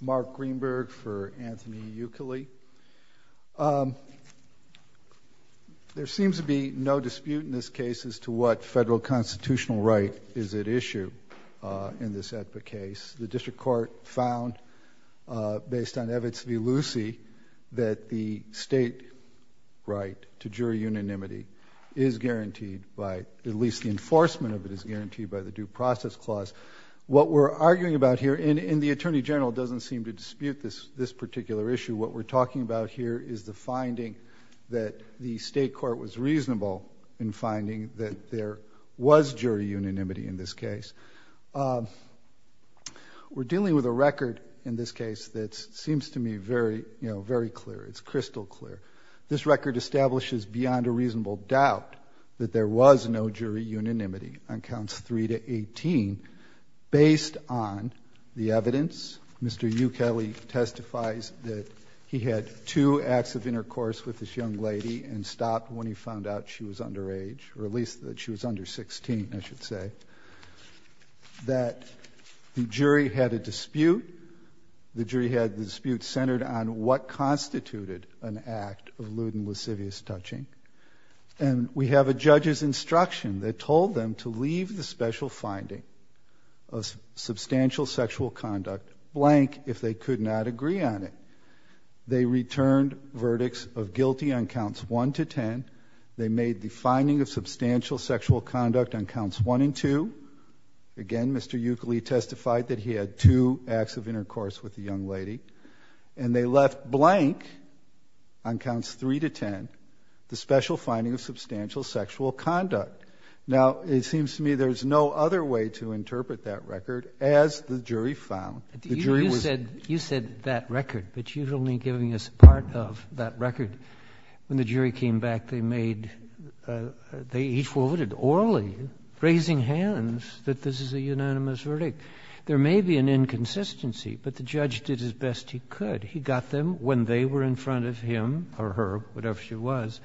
Mark Greenberg for Anthony Ukele. There seems to be no dispute in this case as to what federal constitutional right is at issue in this case. The district court found, based on Evitz v. Lucy, that the state right to jury unanimity is guaranteed by, at least the enforcement of it is guaranteed by the Due Process Clause. What we're arguing about here, and the Attorney General doesn't seem to dispute this particular issue, what we're talking about here is the finding that the state court was reasonable in finding that there was jury unanimity in this case. We're dealing with a record in this case that seems to me very clear. It's crystal clear. This record establishes beyond a reasonable doubt that there was no jury unanimity on counts 3 to 18 based on the evidence. Mr. Ukele testifies that he had two acts of intercourse with this young lady and stopped when he found out she was under age, or at least that she was under 16, I should say. That the jury had a dispute. The jury had the dispute centered on what constituted an act of lewd and lascivious touching. And we have a judge's instruction that told them to leave the special finding of substantial sexual conduct blank if they could not agree on it. They returned verdicts of guilty on counts 1 to 10. They made the finding of substantial sexual conduct on counts 1 and 2. Again, Mr. Ukele testified that he had two acts of intercourse with the young lady. And they left blank on conduct. Now, it seems to me there's no other way to interpret that record as the jury found. You said that record, but you're only giving us part of that record. When the jury came back, they made, he forwarded orally, raising hands that this is a unanimous verdict. There may be an inconsistency, but the judge did his best he could. He got them when they were in front of him or her, whatever she was,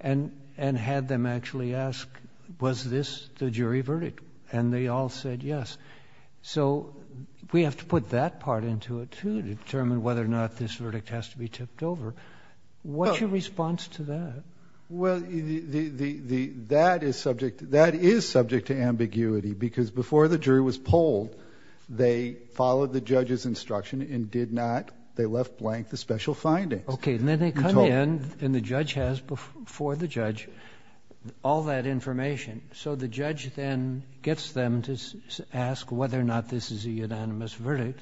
and had them actually ask, was this the jury verdict? And they all said yes. So we have to put that part into it too to determine whether or not this verdict has to be tipped over. What's your response to that? Well, that is subject to ambiguity because before the jury was polled, they followed the judge's findings. Okay. And then they come in and the judge has before the judge all that information. So the judge then gets them to ask whether or not this is a unanimous verdict.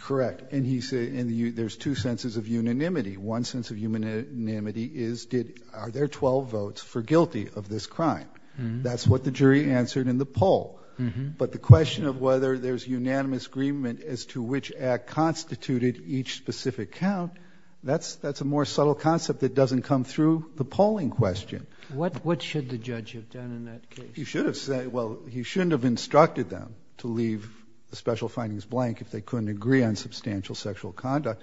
Correct. And he said, and there's two senses of unanimity. One sense of unanimity is, are there 12 votes for guilty of this crime? That's what the jury answered in the poll. But the question of whether there's unanimous agreement as to which act constituted each specific count, that's a more subtle concept that doesn't come through the polling question. What should the judge have done in that case? He should have said, well, he shouldn't have instructed them to leave the special findings blank if they couldn't agree on substantial sexual conduct.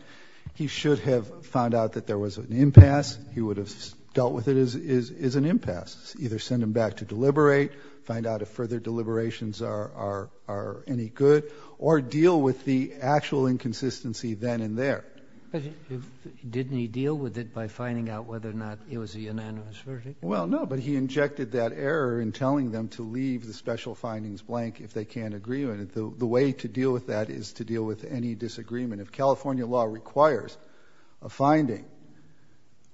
He should have found out that there was an impasse. He would have dealt with it as an impasse. Either send them back to deliberate, find out if further deliberations are any good or deal with the actual inconsistency then and there. Didn't he deal with it by finding out whether or not it was a unanimous verdict? Well, no, but he injected that error in telling them to leave the special findings blank if they can't agree on it. The way to deal with that is to deal with any disagreement. If California law requires a finding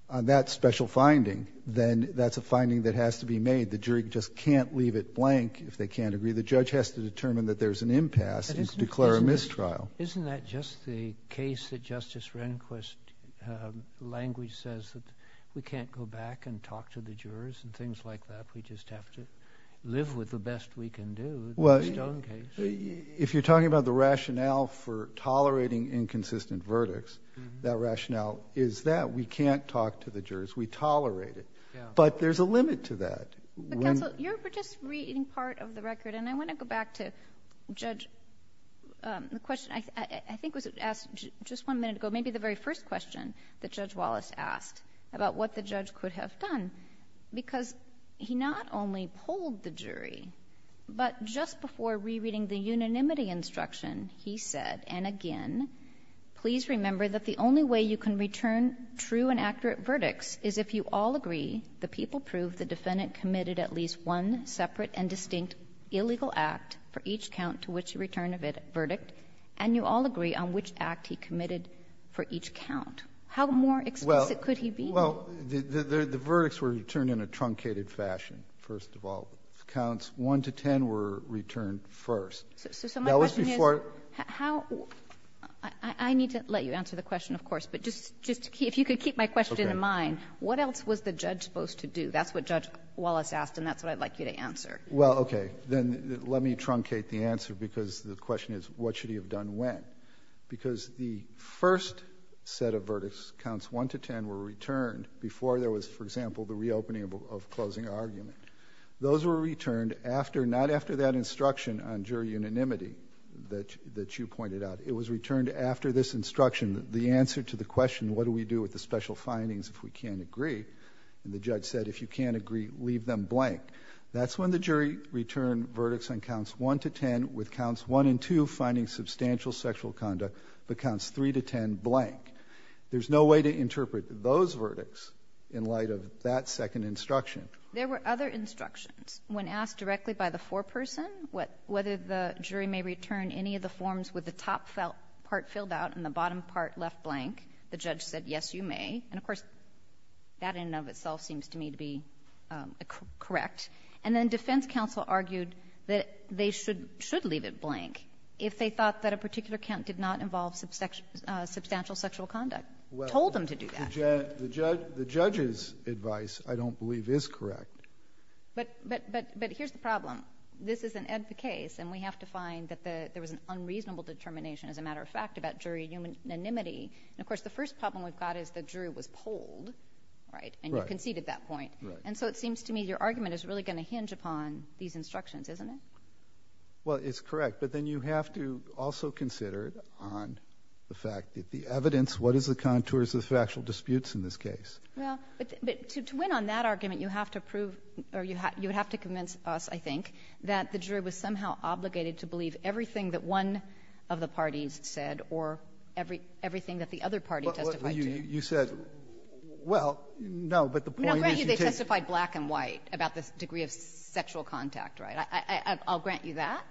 on that special finding, then that's a finding that has to be made. The jury just can't leave it blank if they can't agree. The judge has to determine that there's an impasse and declare a mistrial. Isn't that just the case that Justice Rehnquist language says that we can't go back and talk to the jurors and things like that. We just have to live with the best we can do. Well, if you're talking about the rationale for tolerating inconsistent verdicts, that rationale is that we can't talk to the jurors. We tolerate it, but there's a limit to that. Counsel, you were just reading part of the record and I want to go back to the question I think was asked just one minute ago, maybe the very first question that Judge Wallace asked about what the judge could have done because he not only polled the jury, but just before rereading the unanimity instruction, he said, and again, please remember that the only way you can return true and accurate verdicts is if you all agree the people prove the defendant committed at least one separate and distinct illegal act for each count to which he returned a verdict and you all agree on which act he committed for each count. How more explicit could he be? Well, the verdicts were returned in a truncated fashion, first of all. Counts 1 to 10 were returned first. So my question is, I need to let you answer the question, of course, but just if you could keep my question in mind, what else was the judge supposed to do? That's what Judge Wallace asked and that's what I'd like you to answer. Well, okay. Then let me truncate the answer because the question is what should he have done when? Because the first set of verdicts, counts 1 to 10, were returned before there was, for example, the reopening of closing argument. Those were returned after, not after that instruction on jury unanimity that you pointed out. It was returned after this instruction, the answer to the question, what do we do with the special findings if we can't agree? And the judge said, if you can't agree, leave them blank. That's when the jury returned verdicts on counts 1 to 10 with counts 1 and 2 finding substantial sexual conduct, but counts 3 to 10 blank. There's no way to interpret those verdicts in light of that second instruction. There were other instructions. When asked directly by the foreperson whether the jury may return any of the forms with the top part filled out and the bottom part left blank, the judge said, yes, you may. And, of course, that in and of itself seems to me to be correct. And then defense counsel argued that they should leave it blank if they thought that a particular count did not involve substantial sexual conduct. Told them to do that. The judge's advice, I don't believe, is correct. But here's the problem. This is an ed case, and we have to find that there was an unreasonable determination, as a matter of fact, about jury unanimity. And, of course, the first problem we've got is the jury was polled, right? And you conceded that point. And so it seems to me your argument is really going to hinge upon these instructions, isn't it? Well, it's correct. But then you have to also consider on the fact that the evidence, what is the contours of the factual disputes in this case? Well, but to win on that argument, you have to prove, or you would have to convince us, I think, that the jury was somehow obligated to believe everything that one of the parties said or everything that the other party testified to. You said, well, no, but the point is you did. Now, grant you they testified black and white about the degree of sexual contact, right? I'll grant you that.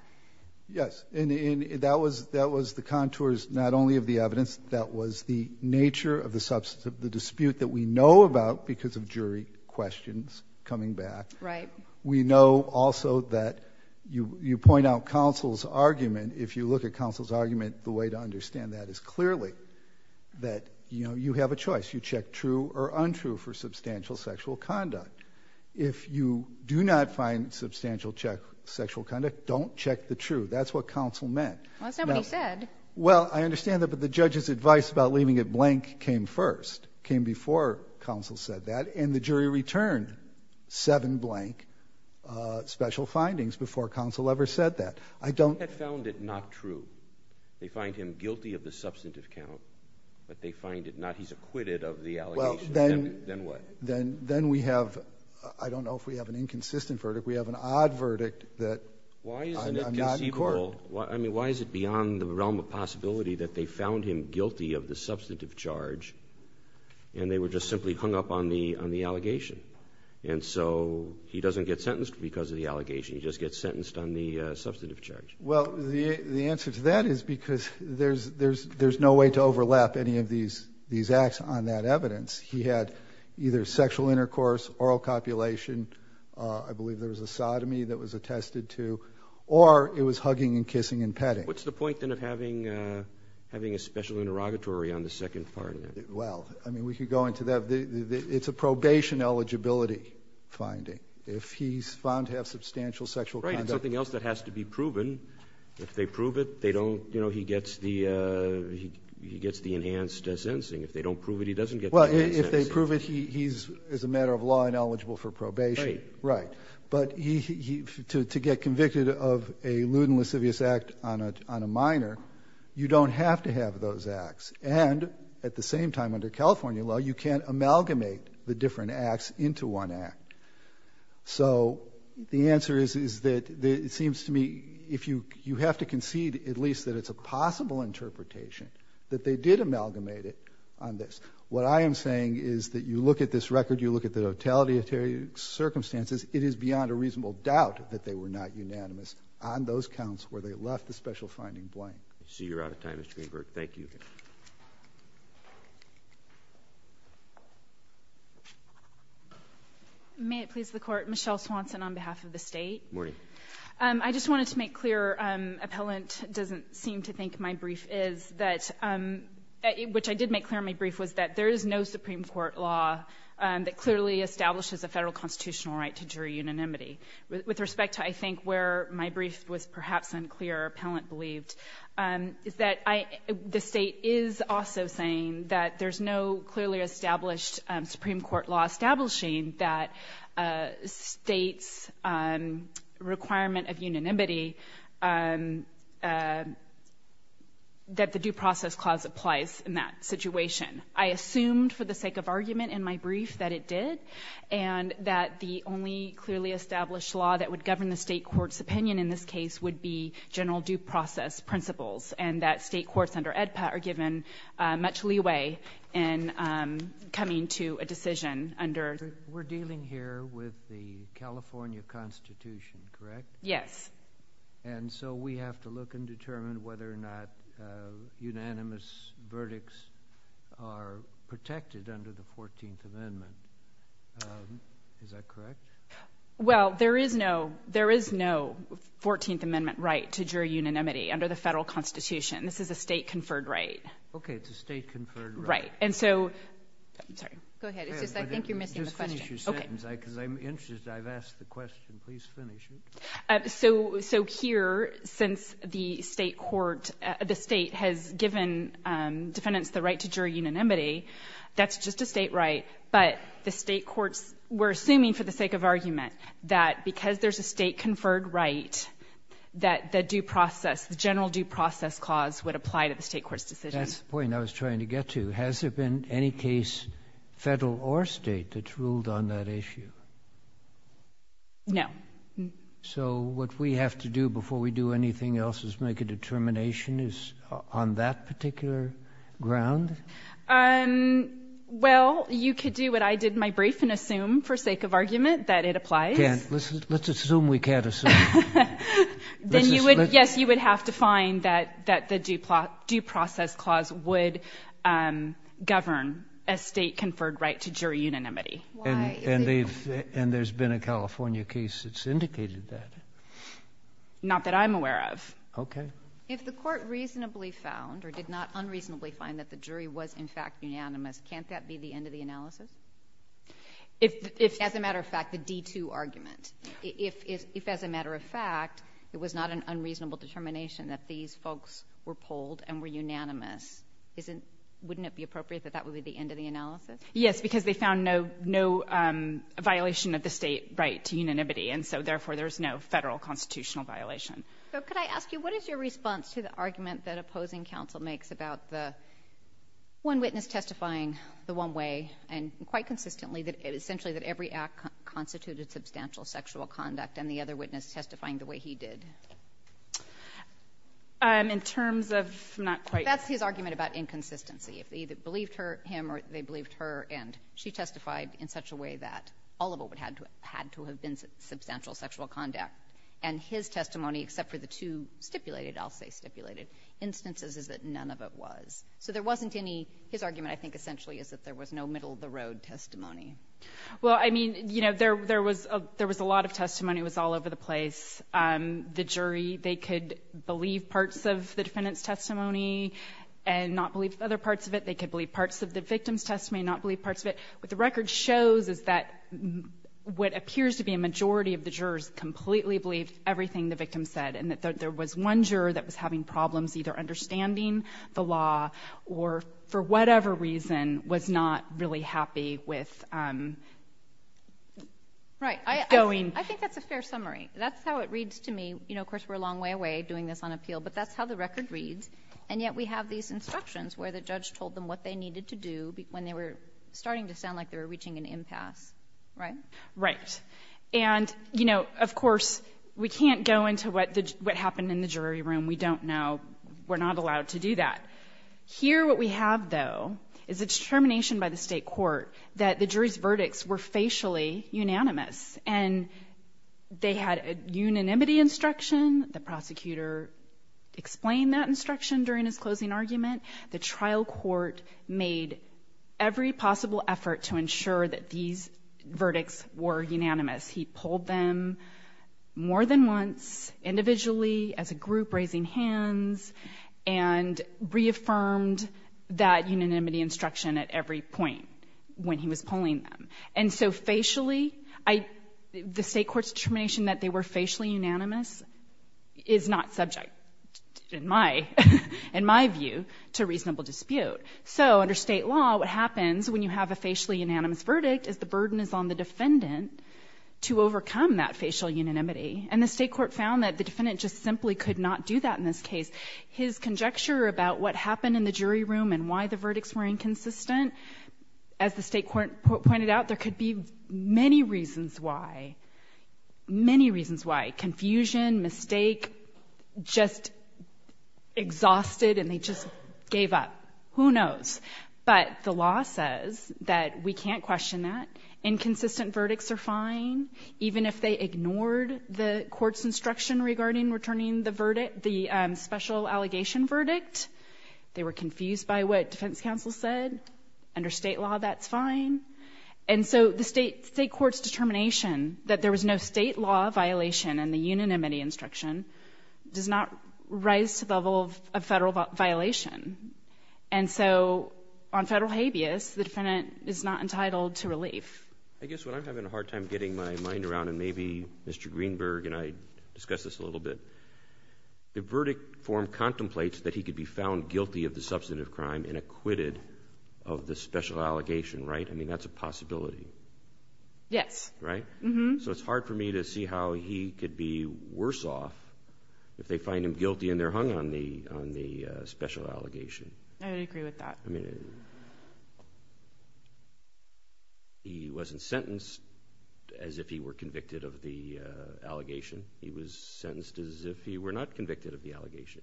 Yes, and that was the contours not only of the evidence, that was the nature of the substance of the dispute that we know about because of jury questions coming back. We know also that you point out counsel's argument. If you look at counsel's argument, the way to understand that is clearly that you have a choice. You check true or untrue for substantial sexual conduct. If you do not find substantial sexual conduct, don't check the true. That's what counsel meant. Well, that's not what he said. Well, I understand that, but the judge's advice about leaving it blank came first, came before counsel said that, and the jury returned seven blank special findings before counsel ever said that. I don't... If they found it not true, they find him guilty of the substantive count, but they find it not, he's acquitted of the allegation, then what? Then we have, I don't know if we have an inconsistent verdict, we have an odd verdict that I'm not in court. Why is it conceivable, I mean, why is it beyond the realm of possibility that they found him guilty of the substantive charge and they were just simply hung up on the allegation? And so he doesn't get sentenced because of the allegation, he just gets sentenced on the substantive charge. Well, the answer to that is because there's no way to overlap any of these acts on that there's sexual intercourse, oral copulation, I believe there was a sodomy that was attested to, or it was hugging and kissing and petting. What's the point then of having a special interrogatory on the second part of that? Well, I mean, we could go into that. It's a probation eligibility finding. If he's found to have substantial sexual conduct... Right, something else that has to be proven. If they prove it, they don't, you know, he gets the enhanced sentencing. If they don't prove it, he doesn't get the enhanced sentencing. If they prove it, he's, as a matter of law, ineligible for probation, right. But to get convicted of a lewd and lascivious act on a minor, you don't have to have those acts. And at the same time, under California law, you can't amalgamate the different acts into one act. So the answer is that it seems to me, if you have to concede at least that it's a possible interpretation, that they did amalgamate it on this. What I am saying is that you look at this record, you look at the totality of circumstances, it is beyond a reasonable doubt that they were not unanimous on those counts where they left the special finding blank. I see you're out of time, Mr. Greenberg. Thank you. May it please the Court, Michelle Swanson on behalf of the state. Morning. I just wanted to make clear, appellant doesn't seem to think my brief is, that, which I did make clear in my brief was that there is no Supreme Court law that clearly establishes a federal constitutional right to jury unanimity. With respect to, I think, where my brief was perhaps unclear, appellant believed, is that the state is also saying that there's no clearly established Supreme Court law establishing that state's requirement of unanimity, that the due process clause applies in that situation. I assumed for the sake of argument in my brief that it did, and that the only clearly established law that would govern the state court's opinion in this case would be general due process principles, and that state courts under AEDPA are given much leeway in coming to a decision under... We're dealing here with the California Constitution, correct? Yes. And so we have to look and determine whether or not unanimous verdicts are protected under the 14th Amendment. Is that correct? Well, there is no, there is no 14th Amendment right to jury unanimity under the federal Constitution. This is a state-conferred right. Okay. It's a state-conferred right. Right. And so... I'm sorry. Go ahead. It's just I think you're missing the question. Just finish your sentence. Okay. Because I'm interested. I've asked the question. Please finish it. So here, since the state court, the state has given defendants the right to jury unanimity, that's just a state right. But the state courts were assuming for the sake of argument that, because there's a state-conferred right, that the due process, the general due process clause would apply to the state court's decision. That's the point I was trying to get to. Has there been any case, federal or state, that's ruled on that issue? No. So what we have to do before we do anything else is make a determination on that particular ground? Well, you could do what I did in my brief and assume, for sake of argument, that it applies. Let's assume we can't assume. Then, yes, you would have to find that the due process clause would govern a state-conferred right to jury unanimity. Why? And there's been a California case that's indicated that. Not that I'm aware of. Okay. If the court reasonably found, or did not unreasonably find, that the jury was in fact unanimous, can't that be the end of the analysis? If... As a matter of fact, the D2 argument. If, as a matter of fact, it was not an unreasonable determination that these folks were polled and were unanimous, wouldn't it be appropriate that that would be the end of the analysis? Yes, because they found no violation of the state right to unanimity. And so, therefore, there's no federal constitutional violation. So, could I ask you, what is your response to the argument that opposing counsel makes about the one witness testifying the one way, and quite consistently, that essentially that every act constituted substantial sexual conduct, and the other witness testifying the way he did? In terms of not quite... That's his argument about inconsistency. They either believed him or they believed her, and she testified in such a way that all of it had to have been substantial sexual conduct. And his testimony, except for the two stipulated, I'll say stipulated, instances is that none of it was. So, there wasn't any... His argument, I think, essentially, is that there was no middle of the road testimony. Well, I mean, you know, there was a lot of testimony. It was all over the place. The jury, they could believe parts of the defendant's testimony and not believe other parts of it. They could believe parts of the victim's testimony and not believe parts of it. What the record shows is that what appears to be a majority of the jurors completely believed everything the victim said, and that there was one juror that was having problems either understanding the law or, for whatever reason, was not really happy with going... Right. I think that's a fair summary. That's how it reads to me. You know, of course, we're a long way away doing this on appeal, but that's how the record reads. And yet, we have these instructions where the judge told them what they needed to do when they were starting to sound like they were reaching an impasse. Right? Right. And, you know, of course, we can't go into what happened in the jury room. We don't know. We're not allowed to do that. Here, what we have, though, is a determination by the state court that the jury's verdicts were facially unanimous, and they had a unanimity instruction. The prosecutor explained that instruction during his closing argument. The trial court made every possible effort to ensure that these verdicts were unanimous. He pulled them more than once, individually, as a group, raising hands, and reaffirmed that unanimity instruction at every point when he was pulling them. And so, facially, the state court's determination that they were facially unanimous is not subject, in my view, to reasonable dispute. So, under state law, what happens when you have a facially unanimous verdict is the burden is on the defendant to overcome that facial unanimity. And the state court found that the defendant just simply could not do that in this case. His conjecture about what happened in the jury room and why the verdicts were inconsistent, as the state court pointed out, there could be many reasons why. Many reasons why. Confusion, mistake, just exhausted, and they just gave up. Who knows? But the law says that we can't question that. Inconsistent verdicts are fine, even if they ignored the court's instruction regarding returning the special allegation verdict. They were confused by what defense counsel said. Under state law, that's fine. And so, the state court's determination that there was no state law violation in the unanimity instruction does not rise to the level of federal violation. And so, on federal habeas, the defendant is not entitled to relief. I guess what I'm having a hard time getting my mind around, and maybe Mr. Greenberg and I discussed this a little bit, the verdict form contemplates that he could be found guilty of the substantive crime and acquitted of the special allegation, right? I mean, that's a possibility. Yes. Right? So it's hard for me to see how he could be worse off if they find him guilty and they're hung on the special allegation. I agree with that. I mean, he wasn't sentenced as if he were convicted of the allegation. He was sentenced as if he were not convicted of the allegation,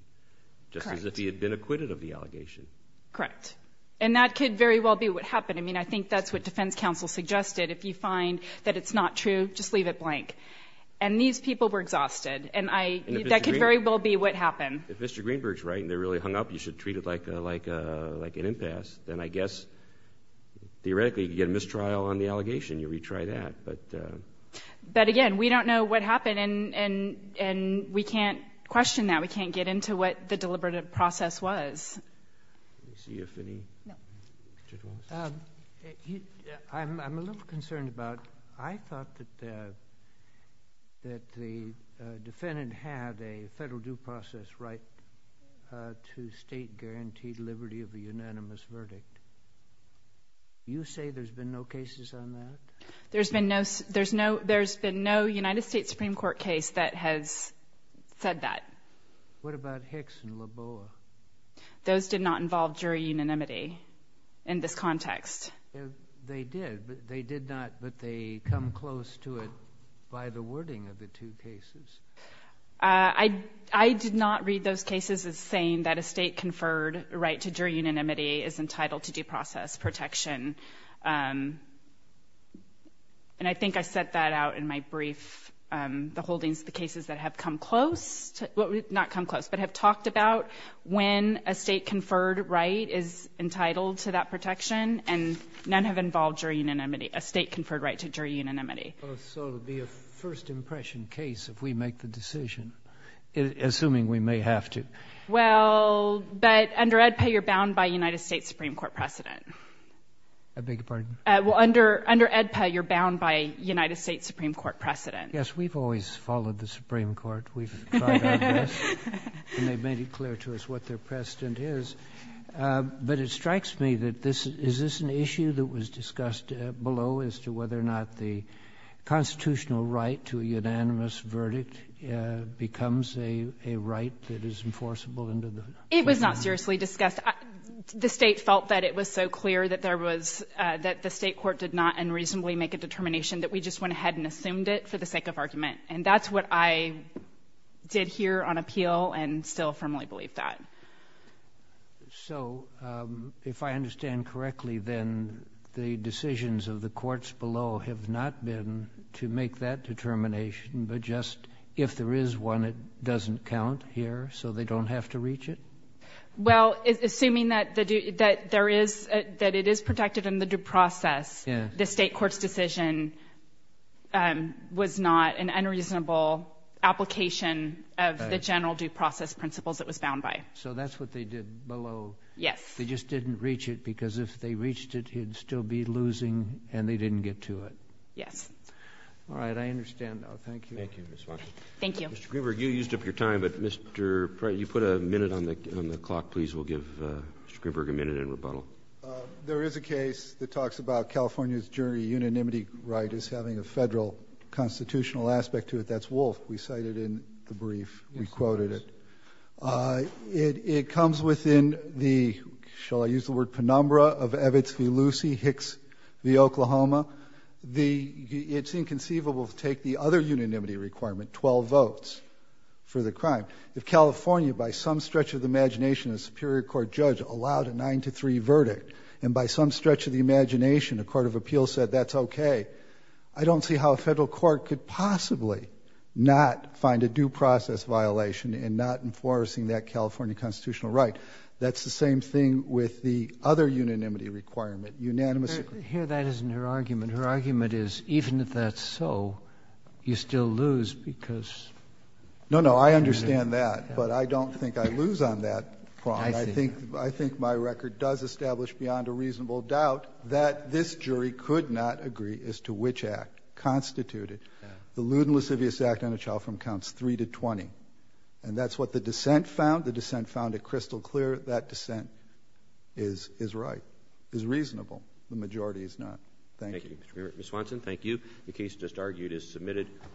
just as if he had been acquitted of the allegation. Correct. And that could very well be what happened. I mean, I think that's what defense counsel suggested. If you find that it's not true, just leave it blank. And these people were exhausted. And that could very well be what happened. If Mr. Greenberg's right and they're really hung up, you should treat it like an impasse. Then I guess, theoretically, you could get a mistrial on the allegation. You retry that. But again, we don't know what happened and we can't question that. We can't get into what the deliberative process was. I'm a little concerned about... I thought that the defendant had a federal due process right to state-guaranteed liberty of a unanimous verdict. You say there's been no cases on that? There's been no United States Supreme Court case that has said that. What about Hicks and Laboa? Those did not involve jury unanimity in this context. They did, but they did not... But they come close to it by the wording of the two cases. I did not read those cases as saying that a state-conferred right to jury unanimity is entitled to due process protection. And I think I set that out in my brief, the holdings of the cases that have come close... Not come close, but have talked about when a state-conferred right is entitled to that protection. And none have involved jury unanimity, a state-conferred right to jury unanimity. So it would be a first impression case if we make the decision, assuming we may have to. Well, but under AEDPA, you're bound by United States Supreme Court precedent. I beg your pardon? Well, under AEDPA, you're bound by United States Supreme Court precedent. Yes, we've always followed the Supreme Court. We've tried our best, and they've made it clear to us what their precedent is. But it strikes me that this... Is this an issue that was discussed below as to whether or not the constitutional right to a unanimous verdict becomes a right that is enforceable under the... It was not seriously discussed. The state felt that it was so clear that there was... That the state court did not unreasonably make a determination that we just went ahead and assumed it for the sake of argument. And that's what I did here on appeal, and still firmly believe that. So, if I understand correctly, then the decisions of the courts below have not been to make that determination, but just, if there is one, it doesn't count here, so they don't have to reach it? Well, assuming that there is... That it is protected in the due process, the state court's decision was not an unreasonable application of the general due process principles it was bound by. So that's what they did below. Yes. They just didn't reach it, because if they reached it, he'd still be losing, and they didn't get to it. Yes. All right. I understand, though. Thank you. Thank you, Ms. Watson. Thank you. Mr. Greenberg, you used up your time, but Mr. Pryor, you put a minute on the clock, please. We'll give Mr. Greenberg a minute in rebuttal. Thank you. There is a case that talks about California's jury unanimity right as having a federal constitutional aspect to it. That's Wolfe. We cited in the brief. We quoted it. It comes within the, shall I use the word, penumbra of Evitz v. Lucey, Hicks v. Oklahoma. It's inconceivable to take the other unanimity requirement, 12 votes, for the crime. If California, by some stretch of the imagination, a Superior Court judge, allowed a 9-3 verdict, and by some stretch of the imagination, a court of appeals said, that's okay, I don't see how a federal court could possibly not find a due process violation in not enforcing that California constitutional right. That's the same thing with the other unanimity requirement. Here, that isn't her argument. Her argument is, even if that's so, you still lose because— No, no, I understand that. But I don't think I lose on that. I think my record does establish, beyond a reasonable doubt, that this jury could not agree as to which act constituted the lewd and lascivious act on a child from counts 3 to 20. And that's what the dissent found. The dissent found it crystal clear. That dissent is right, is reasonable. The majority is not. Thank you. Ms. Swanson, thank you. The case just argued is submitted.